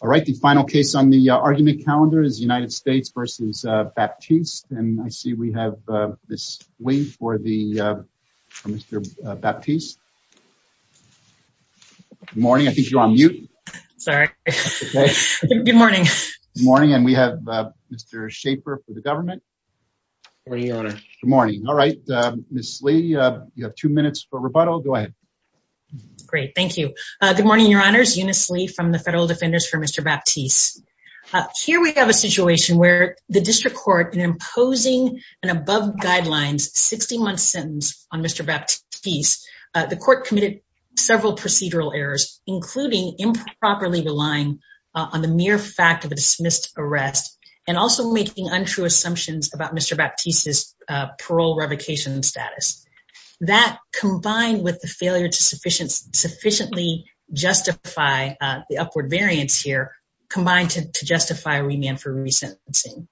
All right. The final case on the argument calendar is United States versus Baptiste. And I see we have this waiting for the Mr. Baptiste. Morning. I think you're on mute. Sorry. Good morning. Morning. And we have Mr. Schaefer for the government. Good morning. All right. Miss Lee, you have two minutes for rebuttal. Go ahead. Great. Thank you. Good morning, Your Honors. Eunice Lee from the Federal Defenders for Mr. Baptiste. Here we have a situation where the district court, in imposing an above guidelines 60-month sentence on Mr. Baptiste, the court committed several procedural errors, including improperly relying on the mere fact of a dismissed arrest and also making untrue assumptions about Mr. Baptiste's the upward variance here combined to justify remand for resentencing.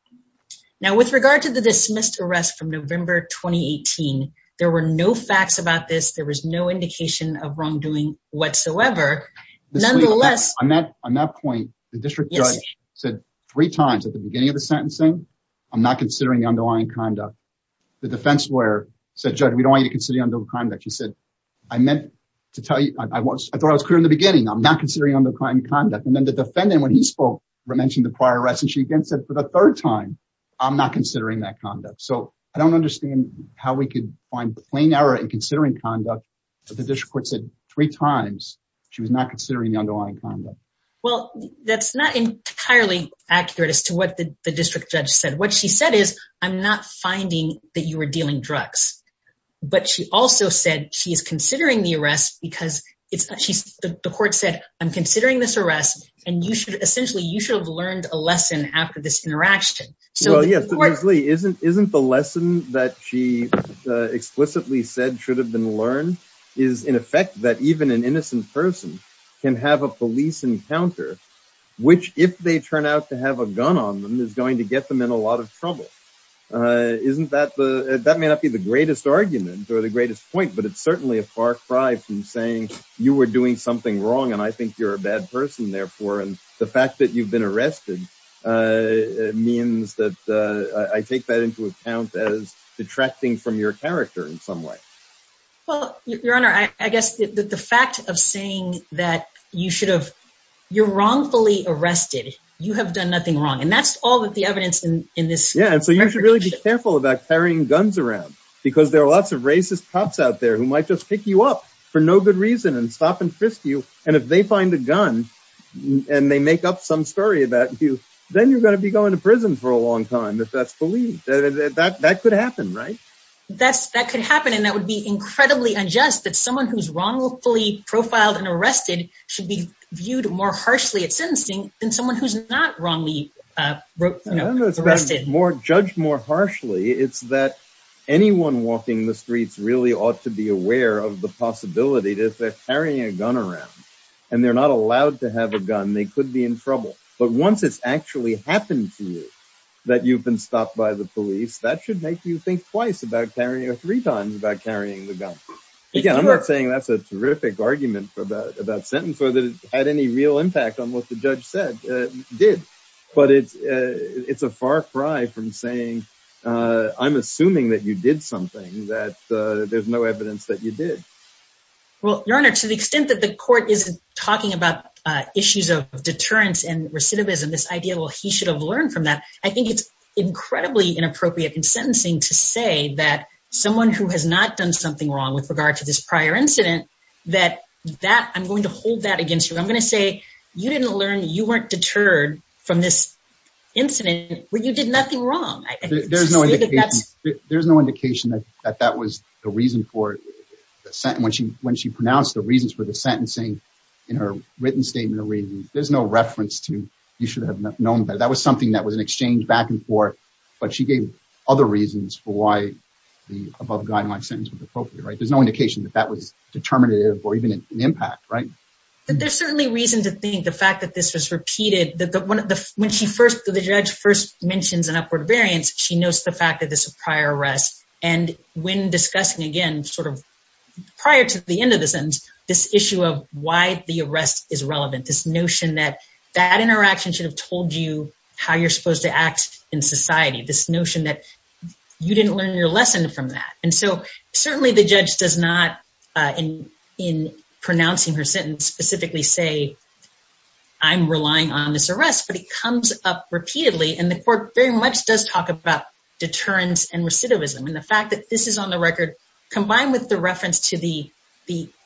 Now, with regard to the dismissed arrest from November 2018, there were no facts about this. There was no indication of wrongdoing whatsoever. Nonetheless, on that point, the district judge said three times at the beginning of the sentencing, I'm not considering the underlying conduct. The defense lawyer said, we don't want you to consider the underlying conduct. She said, I meant to tell you, I thought I was clear in the beginning. I'm not considering underlying conduct. And then the defendant, when he spoke, mentioned the prior arrest. And she again said, for the third time, I'm not considering that conduct. So I don't understand how we could find plain error in considering conduct. But the district court said three times she was not considering the underlying conduct. Well, that's not entirely accurate as to what the district judge said. What she said is, I'm not finding that you were dealing drugs. But she also said she is considering the arrest because the court said, I'm considering this arrest. And essentially, you should have learned a lesson after this interaction. Well, yes. So Leslie, isn't the lesson that she explicitly said should have been learned is in effect that even an innocent person can have a police encounter, which, if they turn out to have a gun on them, is going to get them in a lot of trouble. That may not be the greatest argument or the greatest point. But it's certainly a far cry from saying, you were doing something wrong. And I think you're a bad person, therefore. And the fact that you've been arrested means that I take that into account as detracting from your character in some way. Well, Your Honor, I guess the fact of saying that you should have, you're wrongfully arrested. You have done nothing wrong. And that's all that the evidence in this. Yeah. And so you should really be careful about carrying guns around because there are lots of racist cops out there who might just pick you up for no good reason and stop and frisk you. And if they find a gun and they make up some story about you, then you're going to be going to prison for a long time, if that's believed. That could happen, right? That could happen. And that would be incredibly unjust that someone who's wrongfully profiled and arrested should be viewed more harshly at sentencing than someone who's not wrongly arrested. I don't know if it's judged more harshly. It's that anyone walking the streets really ought to be aware of the possibility that if they're carrying a gun around and they're not allowed to have a gun, they could be in trouble. But once it's actually happened to you, that you've been stopped by the police, that should make you think twice about carrying or three times about carrying the gun. Again, I'm not saying that's a terrific argument about sentence or that it had any real impact on what the judge said, did. But it's a far cry from saying, I'm assuming that you did something, that there's no evidence that you did. Well, Your Honor, to the extent that the court isn't talking about issues of deterrence and recidivism, this idea, well, he should have learned from that, I think it's to say that someone who has not done something wrong with regard to this prior incident, that I'm going to hold that against you. I'm going to say, you didn't learn, you weren't deterred from this incident when you did nothing wrong. There's no indication that that was the reason for the sentence. When she pronounced the reasons for the sentencing in her written statement of reasons, there's no reference to, you should have known that. That was something that was exchanged back and forth, but she gave other reasons for why the above guideline sentence was appropriate. There's no indication that that was determinative or even an impact. There's certainly reason to think the fact that this was repeated, that when the judge first mentions an upward variance, she knows the fact that this is a prior arrest. And when discussing, again, prior to the end of the sentence, this issue of why the arrest is relevant, this notion that that interaction should have told you how you're supposed to act in society, this notion that you didn't learn your lesson from that. And so certainly the judge does not in pronouncing her sentence specifically say, I'm relying on this arrest, but it comes up repeatedly. And the court very much does talk about deterrence and recidivism. And the fact that this is on the record, combined with the reference to the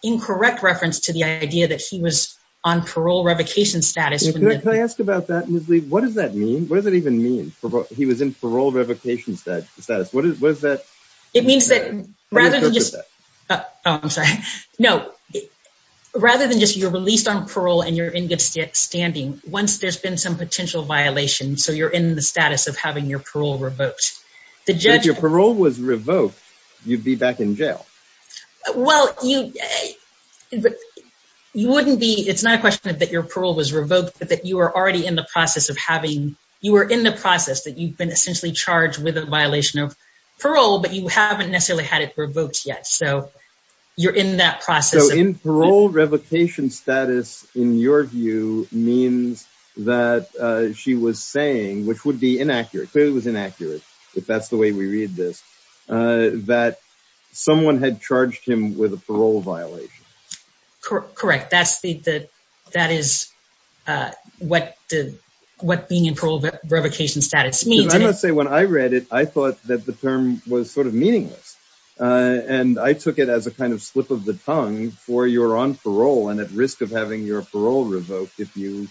incorrect reference to the idea that he was on parole revocation status. Can I ask about that, Ms. Lee? What does that mean? What does it even mean? He was in parole revocation status. What is that? It means that rather than just... Oh, I'm sorry. No. Rather than just you're released on parole and you're in good standing, once there's been some potential violation, so you're in the status of having your parole revoked. If your parole was revoked, you'd be back in jail. Well, you wouldn't be... It's not a question that your parole was revoked, but that you were already in the process of having... You were in the process that you've been essentially charged with a violation of parole, but you haven't necessarily had it revoked yet. So you're in that process. So in parole revocation status, in your view, means that she was saying, which would clearly was inaccurate if that's the way we read this, that someone had charged him with a parole violation. Correct. That is what being in parole revocation status means. I'm going to say when I read it, I thought that the term was sort of meaningless. And I took it as a kind of slip of the tongue for you're on parole and at risk of having your parole revoked if you,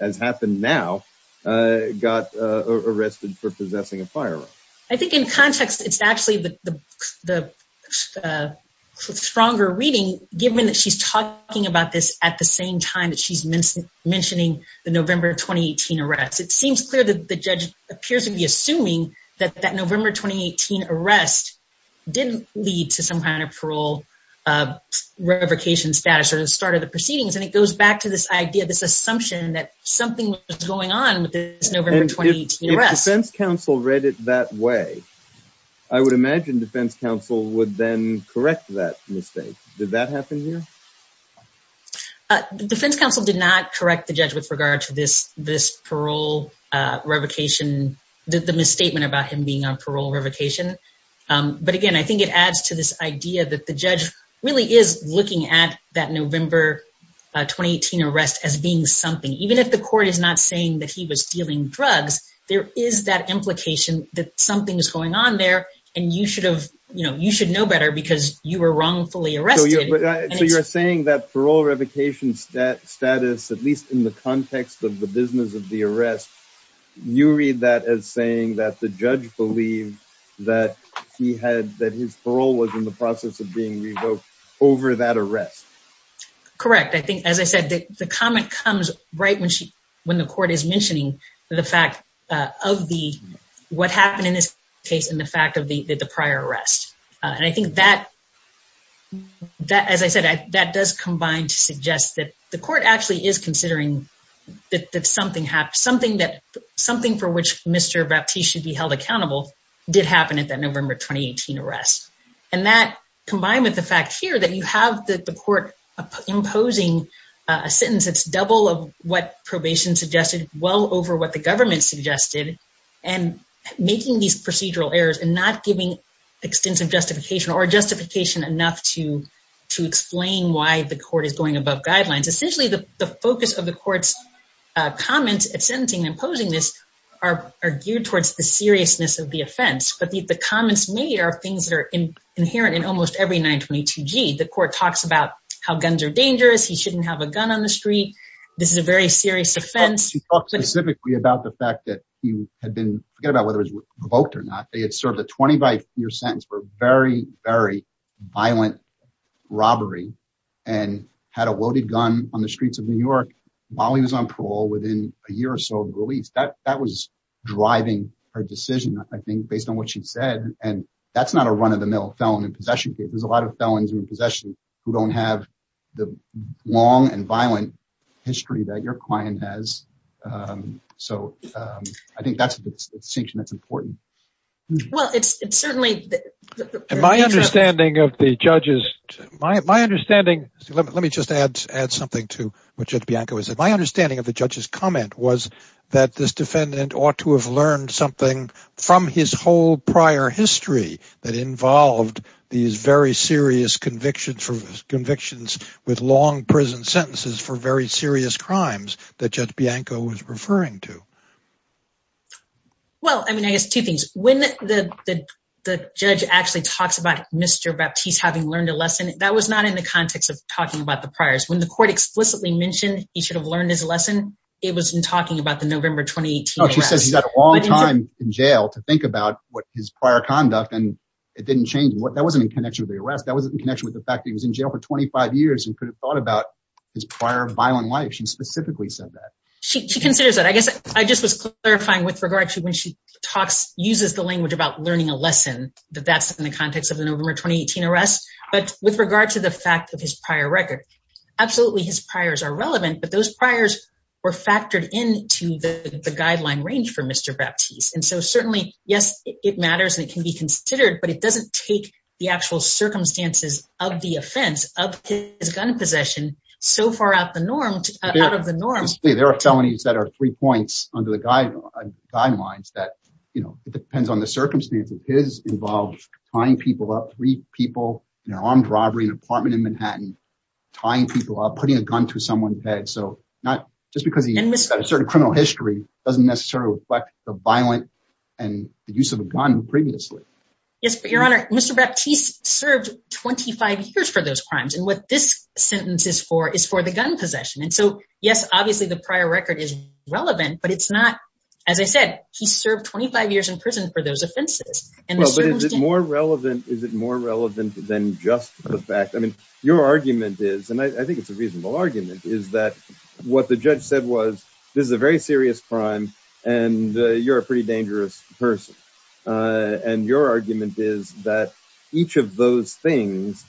as happened now, got arrested for possessing a firearm. I think in context, it's actually the stronger reading, given that she's talking about this at the same time that she's mentioning the November 2018 arrest. It seems clear that the judge appears to be assuming that that November 2018 arrest didn't lead to some kind of parole revocation status or the start of the proceedings. And it goes back to this idea, this assumption that something was going on with this November 2018 arrest. If defense counsel read it that way, I would imagine defense counsel would then correct that mistake. Did that happen here? Defense counsel did not correct the judge with regard to this parole revocation, the misstatement about him being on parole revocation. But again, I think it adds to this idea that the judge really is looking at that November 2018 arrest as being something. Even if the court is not saying that he was dealing drugs, there is that implication that something is going on there, and you should know better because you were wrongfully arrested. So you're saying that parole revocation status, at least in the context of the business of the arrest, you read that as saying that the judge believed that his parole was in the process of being revoked over that arrest? Correct. I think, as I said, the comment comes right when the court is mentioning the fact of what happened in this case and the fact of the prior arrest. And I think that, as I said, that does combine to suggest that the court actually is considering that something happened, something for which Mr. Baptiste should be held accountable did happen at that November 2018 arrest. And that, combined with the fact here that you have the court imposing a sentence that's double of what probation suggested, well over what the government suggested, and making these procedural errors and not giving extensive justification or justification enough to explain why the court is going above guidelines. Essentially, the focus of the court's comment at sentencing and imposing this are geared towards the seriousness of the offense. But the comments made are things that are inherent in almost every 922G. The court talks about how guns are dangerous, he shouldn't have a gun on the street, this is a very serious offense. He talked specifically about the fact that he had been, forget about whether he was revoked or not, they had served a 20-by-4 sentence for very, very violent robbery and had a loaded gun on the street while he was on parole within a year or so of release. That was driving her decision, I think, based on what she said. And that's not a run-of-the-mill felon in possession case. There's a lot of felons in possession who don't have the long and violent history that your client has. So I think that's the distinction that's important. Well, it's certainly... My understanding of the judges... My understanding... Let me just add something to what Judge Bianco has said. My understanding of the judge's comment was that this defendant ought to have learned something from his whole prior history that involved these very serious convictions with long prison sentences for very serious crimes that Judge Bianco was referring to. Well, I mean, I guess two things. When the judge actually talks about Mr. Baptiste having learned a lesson, that was not in the context of talking about the priors. When the court explicitly mentioned he should have learned his lesson, it was in talking about the November 2018 arrest. She says he's had a long time in jail to think about his prior conduct, and it didn't change. That wasn't in connection with the arrest. That wasn't in connection with the fact that he was in jail for 25 years and could have thought about his prior violent life. She specifically said that. She considers that. I guess I just was clarifying with regard to when she talks... uses the language about learning a lesson, that that's in the context of the November 2018 arrest. But with regard to the fact of his prior record, absolutely his priors are relevant, but those priors were factored into the guideline range for Mr. Baptiste. And so certainly, yes, it matters and it can be considered, but it doesn't take the actual circumstances of the offense of his gun possession so far out of the norm. There are felonies that are three points under the guidelines that it depends on the circumstances. His involved tying people up, three people in an armed robbery in an apartment in Manhattan, tying people up, putting a gun to someone's head. So not... just because he's got a certain criminal history doesn't necessarily reflect the violent and the use of a gun previously. Yes, but Your Honor, Mr. Baptiste served 25 years for those crimes, and what this sentence is for is for the gun possession. And so, yes, obviously the prior record is relevant, but it's not, as I said, he served 25 years in prison for those offenses. Well, but is it more relevant, is it more relevant than just the fact, I mean, your argument is, and I think it's a reasonable argument, is that what the judge said was, this is a very serious crime and you're a pretty dangerous person. And your argument is that each of those things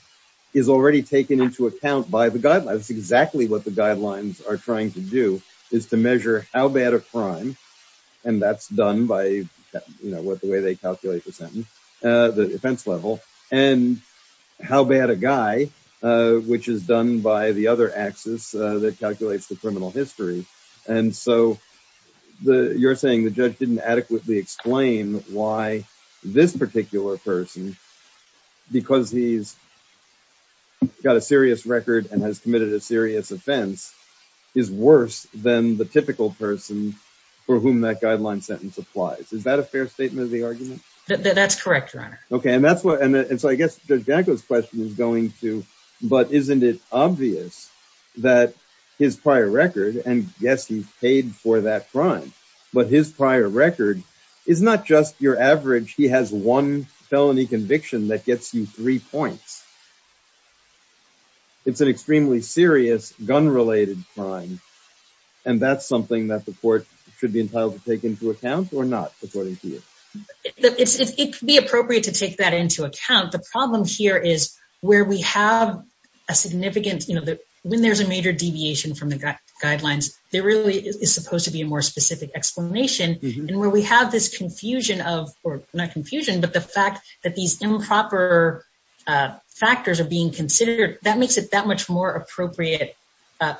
is already taken into account by the guidelines. That's exactly what the guidelines are trying to do, is to measure how bad a crime, and that's done by the way they calculate the sentence, the offense level, and how bad a guy, which is done by the other axis that calculates the criminal history. And so you're saying the judge didn't adequately explain why this particular person, because he's got a serious record and has committed a serious offense, is worse than the typical person for whom that guideline sentence applies. Is that a fair statement of the argument? That's correct, Your Honor. Okay, and that's what, and so I guess Judge Bianco's question is going to, but isn't it obvious that his prior record, and yes, he's paid for that crime, but his prior record is not just your average, he has one felony conviction that gets you three points. It's an extremely serious gun-related crime, and that's something that the court should be entitled to take into account or not, according to you? It could be appropriate to take that into account. The problem here is where we have a significant, when there's a major deviation from guidelines, there really is supposed to be a more specific explanation, and where we have this confusion of, or not confusion, but the fact that these improper factors are being considered, that makes it that much more appropriate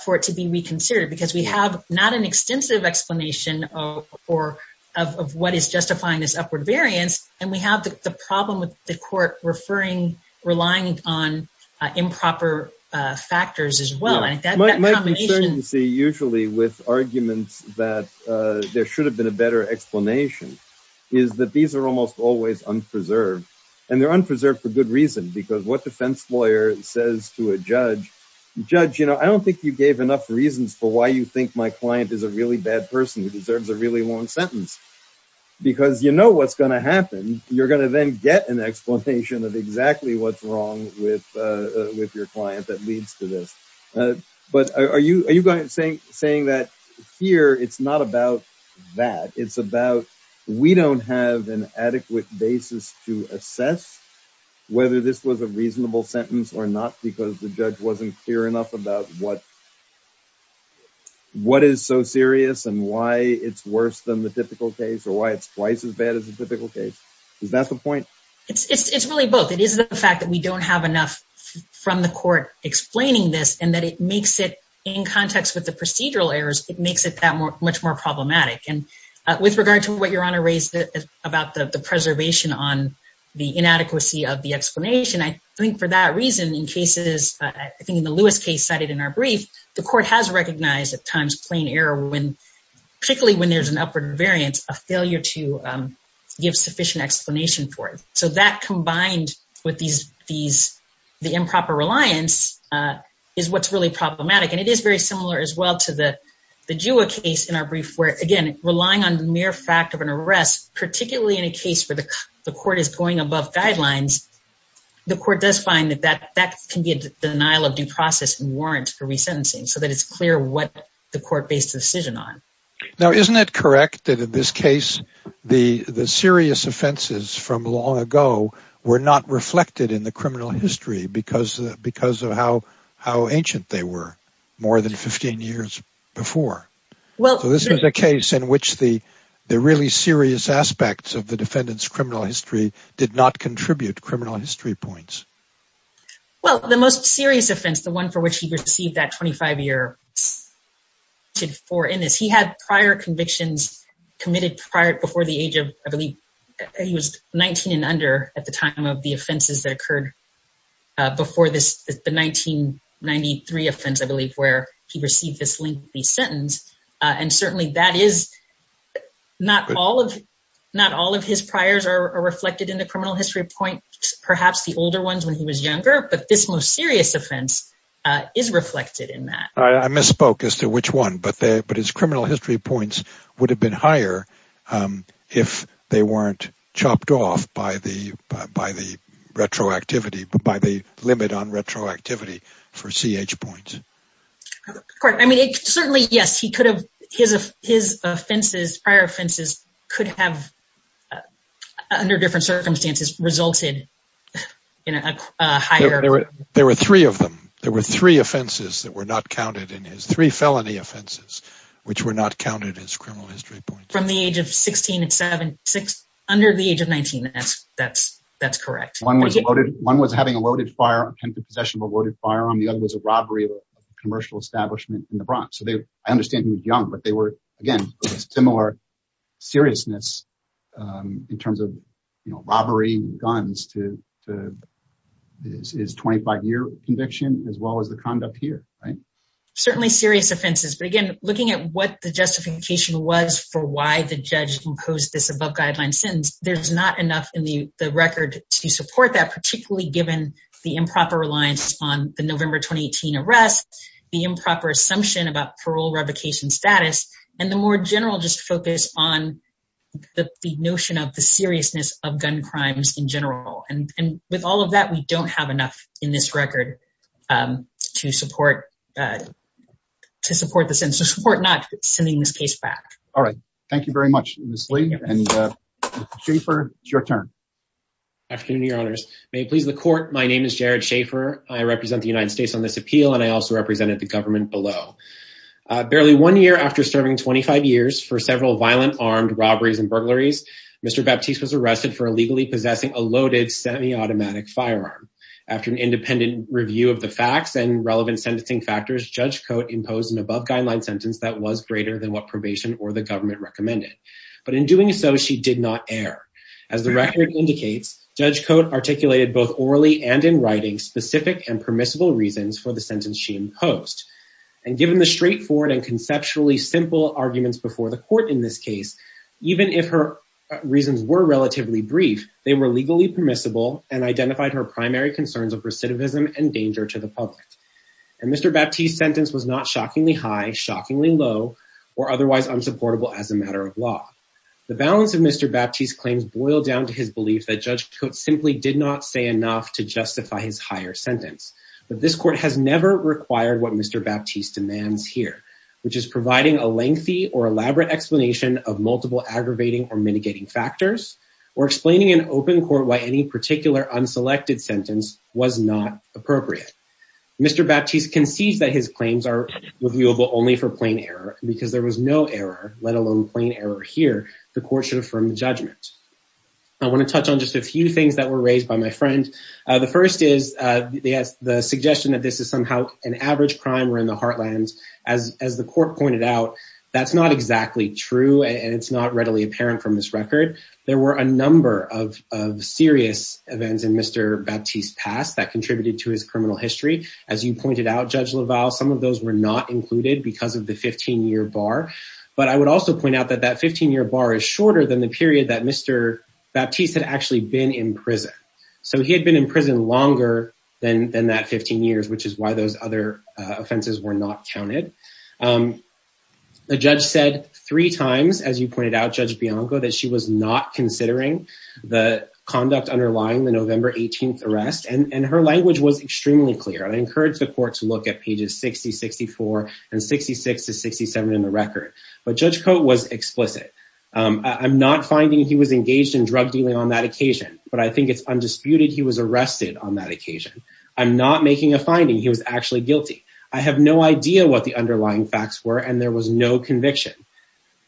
for it to be reconsidered, because we have not an extensive explanation of what is justifying this upward variance, and we have the problem with the usually with arguments that there should have been a better explanation, is that these are almost always unpreserved, and they're unpreserved for good reason, because what defense lawyer says to a judge, judge, you know, I don't think you gave enough reasons for why you think my client is a really bad person who deserves a really long sentence, because you know what's going to happen, you're going to then get an explanation of exactly what's wrong with your client that saying that here, it's not about that, it's about we don't have an adequate basis to assess whether this was a reasonable sentence or not, because the judge wasn't clear enough about what what is so serious, and why it's worse than the typical case, or why it's twice as bad as a typical case. Is that the point? It's really both. It is the fact that we don't have enough from the court explaining this, and that it makes it in context with the procedural errors, it makes it that much more problematic. And with regard to what your honor raised about the preservation on the inadequacy of the explanation, I think for that reason, in cases, I think in the Lewis case cited in our brief, the court has recognized at times plain error when, particularly when there's an upward variance, a failure to give sufficient explanation for it. So that combined with the improper reliance is what's really problematic. And it is very similar as well to the GEOA case in our brief, where again, relying on the mere fact of an arrest, particularly in a case where the court is going above guidelines, the court does find that that can be a denial of due process and warrants for resentencing, so that it's clear what the court based the decision on. Now, isn't it correct that in this case, the serious offenses from long ago were not reflected in the criminal history because of how ancient they were more than 15 years before? This is a case in which the really serious aspects of the defendant's criminal history did not contribute criminal history points. Well, the most serious offense, the one for which he received that 25 years before in this, he had prior convictions committed prior before the age of, I believe, he was 19 and under at the time of the offenses that occurred before the 1993 offense, I believe, where he received this lengthy sentence. And certainly that is not all of his priors are reflected in the criminal history points, perhaps the older ones when he was younger, but this most serious offense is reflected in that. I misspoke as to which one, but his criminal history points would have been higher if they weren't chopped off by the retroactivity, by the limit on retroactivity for CH points. I mean, certainly, yes, he could have, his offenses, prior offenses could have under different circumstances resulted in a higher. There were three of them. There were three offenses that were not counted in his three felony offenses, which were not counted as criminal history points from the age of 16 and seven, six under the age of 19. That's, that's, that's correct. One was loaded. One was having a loaded fire and possession of a loaded firearm. The other was a robbery of a commercial establishment in the seriousness in terms of, you know, robbery guns to his 25 year conviction as well as the conduct here, right? Certainly serious offenses, but again, looking at what the justification was for why the judge imposed this above guideline sentence, there's not enough in the record to support that, particularly given the improper reliance on the November, 2018 arrest, the improper assumption about parole revocation status, and the more general just focus on the notion of the seriousness of gun crimes in general. And with all of that, we don't have enough in this record to support, to support the sentence, to support not sending this case back. All right. Thank you very much, Ms. Lee. And Mr. Schaffer, it's your turn. Afternoon, your honors. May it please the court. My name is Jared Schaffer. I represent the United States Department of Justice, and I represent the government below. Barely one year after serving 25 years for several violent armed robberies and burglaries, Mr. Baptiste was arrested for illegally possessing a loaded semi-automatic firearm. After an independent review of the facts and relevant sentencing factors, Judge Cote imposed an above guideline sentence that was greater than what probation or the government recommended. But in doing so, she did not err. As the record indicates, Judge Cote articulated both orally and in writing specific and permissible reasons for the sentence she imposed. And given the straightforward and conceptually simple arguments before the court in this case, even if her reasons were relatively brief, they were legally permissible and identified her primary concerns of recidivism and danger to the public. And Mr. Baptiste's sentence was not shockingly high, shockingly low, or otherwise unsupportable as a matter of law. The balance of Mr. Baptiste's claims boil down to his belief that Judge Cote simply did not say enough to justify his higher sentence. But this court has never required what Mr. Baptiste demands here, which is providing a lengthy or elaborate explanation of multiple aggravating or mitigating factors, or explaining in open court why any particular unselected sentence was not appropriate. Mr. Baptiste concedes that his claims are reviewable only for plain error because there was no error, let alone plain error here. The court should affirm the judgment. I want to touch on just a few things that were raised by my friend. The first is the suggestion that this is somehow an average crime or in the heartland. As the court pointed out, that's not exactly true and it's not readily apparent from this record. There were a number of serious events in Mr. Baptiste's past that contributed to his criminal history. As you pointed out, Judge LaValle, some of those were not included because of the 15-year bar. But I would also point out that that 15-year bar is shorter than the period that Mr. Baptiste had actually been in prison. So he had been in prison longer than that 15 years, which is why those other offenses were not counted. The judge said three times, as you pointed out, Judge Bianco, that she was not considering the conduct underlying the November 18th arrest. And her language was extremely clear. I encourage the court to look at pages 60, 64, and 66 to 67 in the record. But Judge Coate was explicit. I'm not finding he was engaged in drug dealing on that occasion, but I think it's undisputed he was arrested on that occasion. I'm not making a finding he was actually guilty. I have no idea what the underlying facts were and there was no conviction.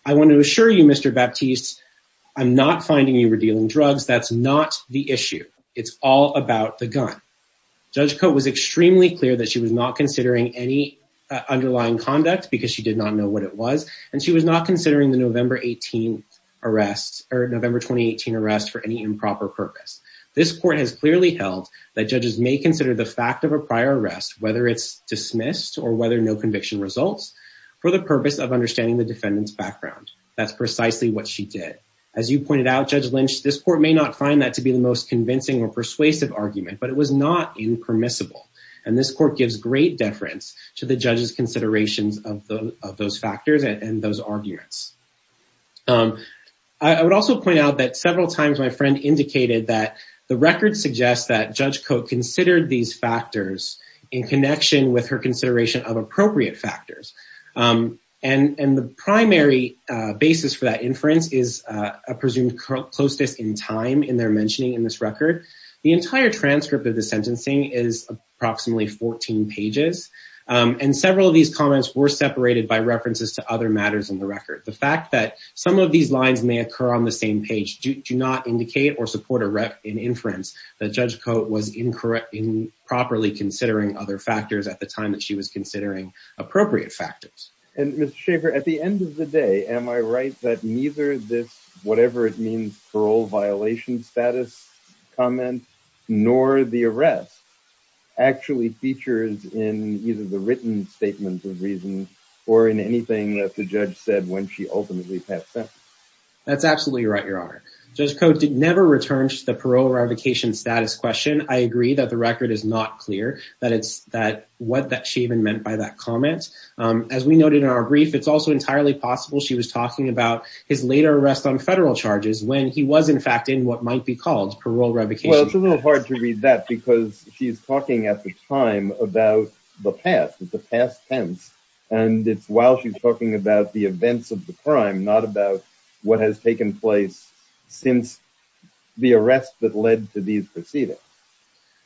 I want to assure you, Mr. Baptiste, I'm not finding you were dealing drugs. That's not the issue. It's all about the gun. Judge Coate was extremely clear that she was not considering any underlying conduct because she did not know what it was. And she was not considering the November 18th arrest or November 2018 arrest for any improper purpose. This court has clearly held that judges may consider the fact of a prior arrest, whether it's dismissed or whether no conviction results, for the purpose of understanding the defendant's background. That's precisely what she did. As you pointed out, Judge Lynch, this court may not find that to be the most convincing or persuasive argument, but it was not impermissible. And this court gives great deference to the judge's considerations of those factors and those arguments. I would also point out that several times my friend indicated that the record suggests that Judge Coate considered these factors in connection with her consideration of appropriate factors. And the primary basis for that inference is a presumed closeness in time in their mentioning in this record. The entire transcript of the sentencing is approximately 14 pages. And several of these comments were separated by references to other matters in the record. The fact that some of these lines may occur on the same page do not indicate or support an inference that Judge Coate was improperly considering other factors at the time that she was considering appropriate factors. And Mr. Schaffer, at the end of the day, am I right that neither this, whatever it means, parole violation status comment, nor the arrest, actually features in either the written statements of reason or in anything that the judge said when she ultimately passed sentence? That's absolutely right, Your Honor. Judge Coate did never return to the parole revocation status question. I agree that the record is not clear that it's that what that she even meant by that comment. As we noted in our brief, it's also entirely possible she was talking about his later arrest on federal charges when he was in fact in what might be called parole revocation. Well, it's a little hard to read that because she's talking at the time about the past, the past tense, and it's while she's talking about the events of the crime, not about what has taken place since the arrest that led to these proceedings.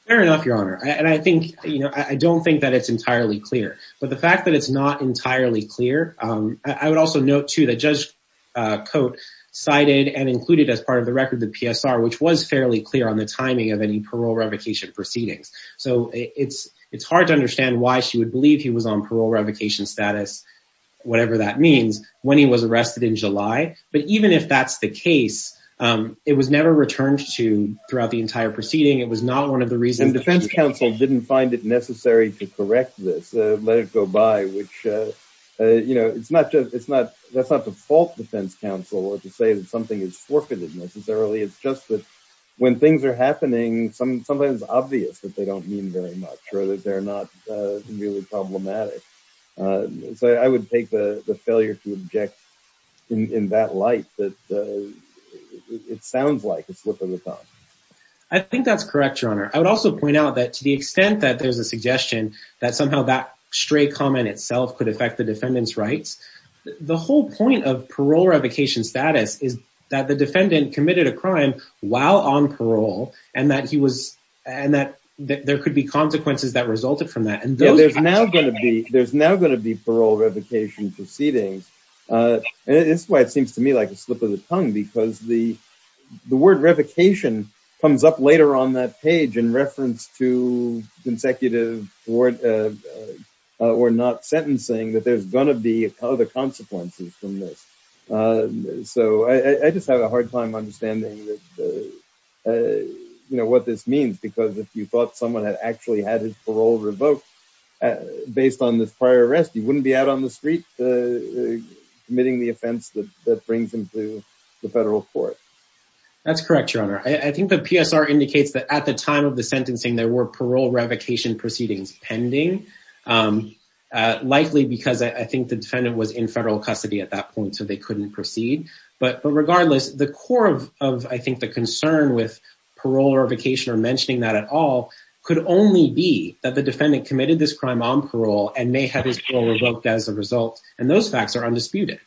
Fair enough, Your Honor. And I think, you know, I don't think that it's entirely clear. But the fact that it's not entirely clear, I would also note, too, that Judge Coate cited and included as part of the record the PSR, which was fairly clear on the timing of any parole revocation proceedings. So it's hard to understand why she would believe he was on parole revocation status, whatever that means, when he was arrested in July. But even if that's the case, it was never returned to throughout the entire proceeding. It was not one of the reasons... The defense counsel didn't find it necessary to correct this, let it go by, which, you know, it's not just, it's not, that's not to fault defense counsel or to say that something is forfeited necessarily. It's just that when things are happening, sometimes it's obvious that they don't mean very much or that they're not really problematic. So I would take the failure to object in that light that it sounds like a slip of the tongue. I think that's correct, Your Honor. I would also point out that to the extent that there's a suggestion that somehow that stray comment itself could affect the defendant's rights, the whole point of parole revocation status is that the defendant committed a crime while on parole and that he was, and that there could be consequences that resulted from that. And there's now going to be, there's now and it's why it seems to me like a slip of the tongue because the word revocation comes up later on that page in reference to consecutive or not sentencing that there's going to be other consequences from this. So I just have a hard time understanding that, you know, what this means, because if you thought someone had actually had his parole revoked based on this prior arrest, you wouldn't be out on the street committing the offense that brings him to the federal court. That's correct, Your Honor. I think the PSR indicates that at the time of the sentencing, there were parole revocation proceedings pending, likely because I think the defendant was in federal custody at that point, so they couldn't proceed. But regardless, the core of, I think, the concern with parole revocation or mentioning that at all could only be that the defendant committed this crime on parole and may have his parole revoked as a result, and those facts are undisputed.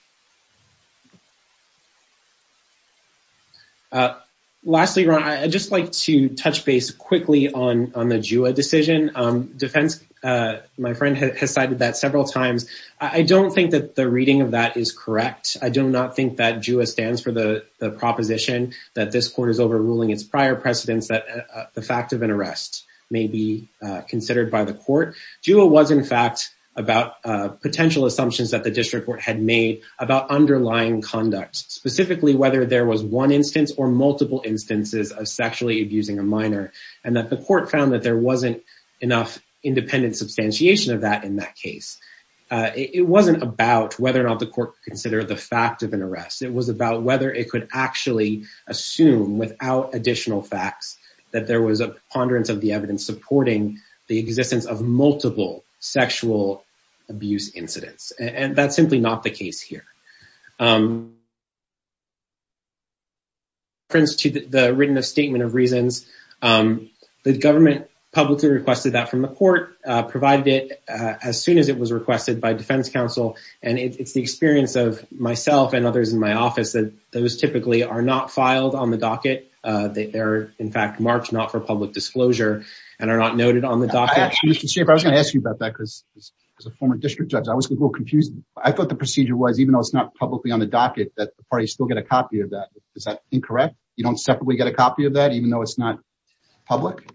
Lastly, Your Honor, I'd just like to touch base quickly on the JUA decision. Defense, my friend has cited that several times. I don't think that the reading of that is correct. I do not think that JUA stands for the proposition that this court is overruling its prior precedents that the fact of an arrest may be considered by the court. JUA was, in fact, about potential assumptions that the district court had made about underlying conduct, specifically whether there was one instance or multiple instances of sexually abusing a minor, and that the court found that there wasn't enough independent substantiation of that in that case. It wasn't about whether or not the court considered the fact of an arrest. It was about whether it could actually assume without additional facts that there was a preponderance of the evidence supporting the existence of multiple sexual abuse incidents, and that's simply not the case here. Friends to the written statement of reasons, the government publicly requested that from the court, provided it as soon as it was requested by defense counsel, and it's the experience of others in my office that those typically are not filed on the docket. They're, in fact, marked not for public disclosure and are not noted on the docket. Mr. Schaffer, I was going to ask you about that because as a former district judge, I was a little confused. I thought the procedure was even though it's not publicly on the docket that the parties still get a copy of that. Is that incorrect? You don't separately get a copy of that even though it's not public?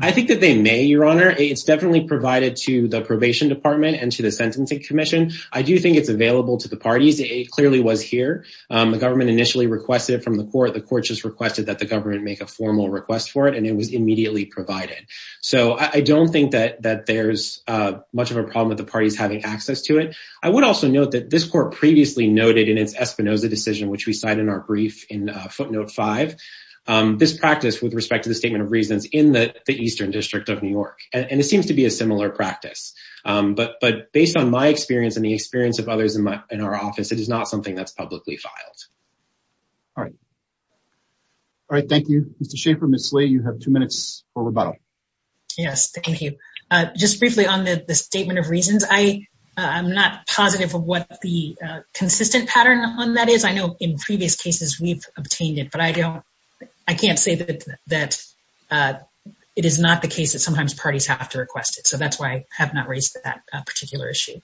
I think that they may, your honor. It's definitely provided to the probation department and to the sentencing commission. I do think it's available to the parties. It clearly was here. The government initially requested it from the court. The court just requested that the government make a formal request for it, and it was immediately provided. So I don't think that there's much of a problem with the parties having access to it. I would also note that this court previously noted in its Espinoza decision, which we cite in our brief in footnote five, this practice with respect to the statement of reasons in the eastern district of New York, and it seems to be a similar practice, but based on my experience and the experience of others in our office, it is not something that's publicly filed. All right. All right. Thank you, Mr. Schaffer. Ms. Slay, you have two minutes for rebuttal. Yes. Thank you. Just briefly on the statement of reasons, I'm not positive of what the consistent pattern on that is. I know in previous cases we've obtained it, but I can't say that it is not the case that sometimes parties have to request it. So that's why I have not raised that particular issue.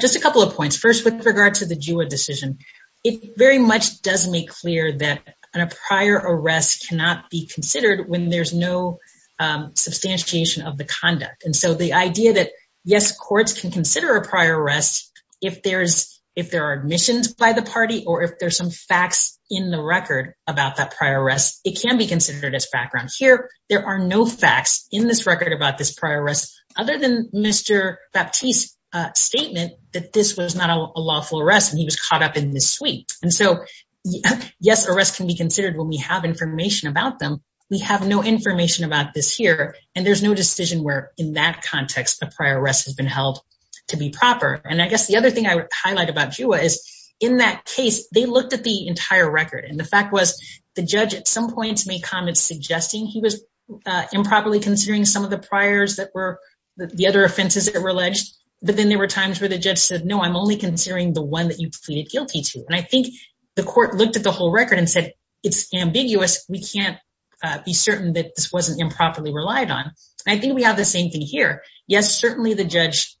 Just a couple of points. First, with regard to the GWA decision, it very much does make clear that a prior arrest cannot be considered when there's no substantiation of the conduct. And so the idea that, yes, courts can consider a prior arrest if there are admissions by the party or if there's some facts in the record about that prior arrest, it can be considered as background. Here, there are no facts in this record about this prior arrest other than Mr. Baptiste's statement that this was not a lawful arrest and he was caught up in this suite. And so, yes, arrests can be considered when we have information about them. We have no information about this here, and there's no decision where, in that context, a prior arrest has been held to be proper. And I guess the other thing I would highlight about GWA is, in that case, they looked at the entire record. And the fact was, the judge, at some points, made comments suggesting he was improperly considering some of the priors that were the other offenses that were alleged. But then there were times where the judge said, no, I'm only considering the one that you pleaded guilty to. And I think the court looked at the whole record and said, it's ambiguous. We can't be certain that this wasn't improperly relied on. I think we have the same thing here. Yes, certainly the judge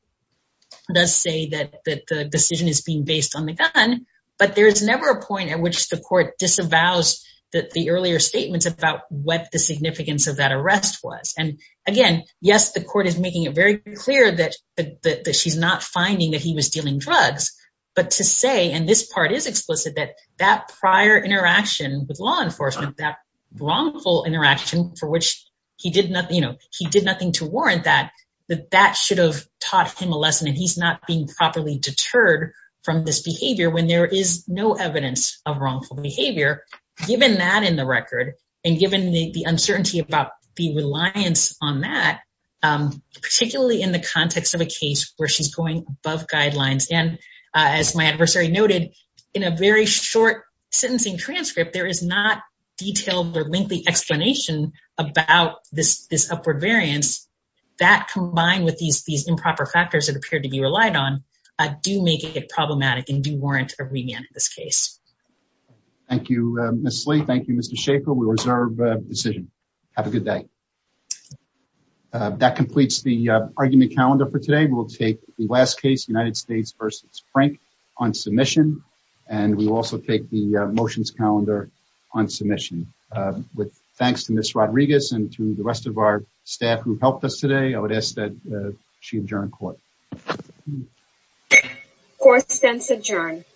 does say that the decision is being based on the gun, but there's never a point at which the court disavows the earlier statements about what the significance of that arrest was. And again, yes, the court is making it very clear that she's not finding that he was dealing drugs. But to say, and this part is explicit, that that prior interaction with law enforcement, that wrongful interaction for which he did nothing to warrant that, that that should have taught him a lesson. And he's not being properly deterred from this behavior when there is no evidence of wrongful behavior, given that in the record, and given the uncertainty about the reliance on that, particularly in the context of a case where she's going above and beyond the guidelines. And as my adversary noted, in a very short sentencing transcript, there is not detailed or lengthy explanation about this upward variance that combined with these improper factors that appear to be relied on, do make it problematic and do warrant a remand in this case. Thank you, Ms. Lee. Thank you, Mr. Shaffer. We reserve the decision. Have a good day. That completes the argument calendar for today. We'll take the last case, United States versus Frank on submission. And we will also take the motions calendar on submission. With thanks to Ms. Rodriguez and to the rest of our staff who helped us today, I would ask that she adjourn court. Court stands adjourned.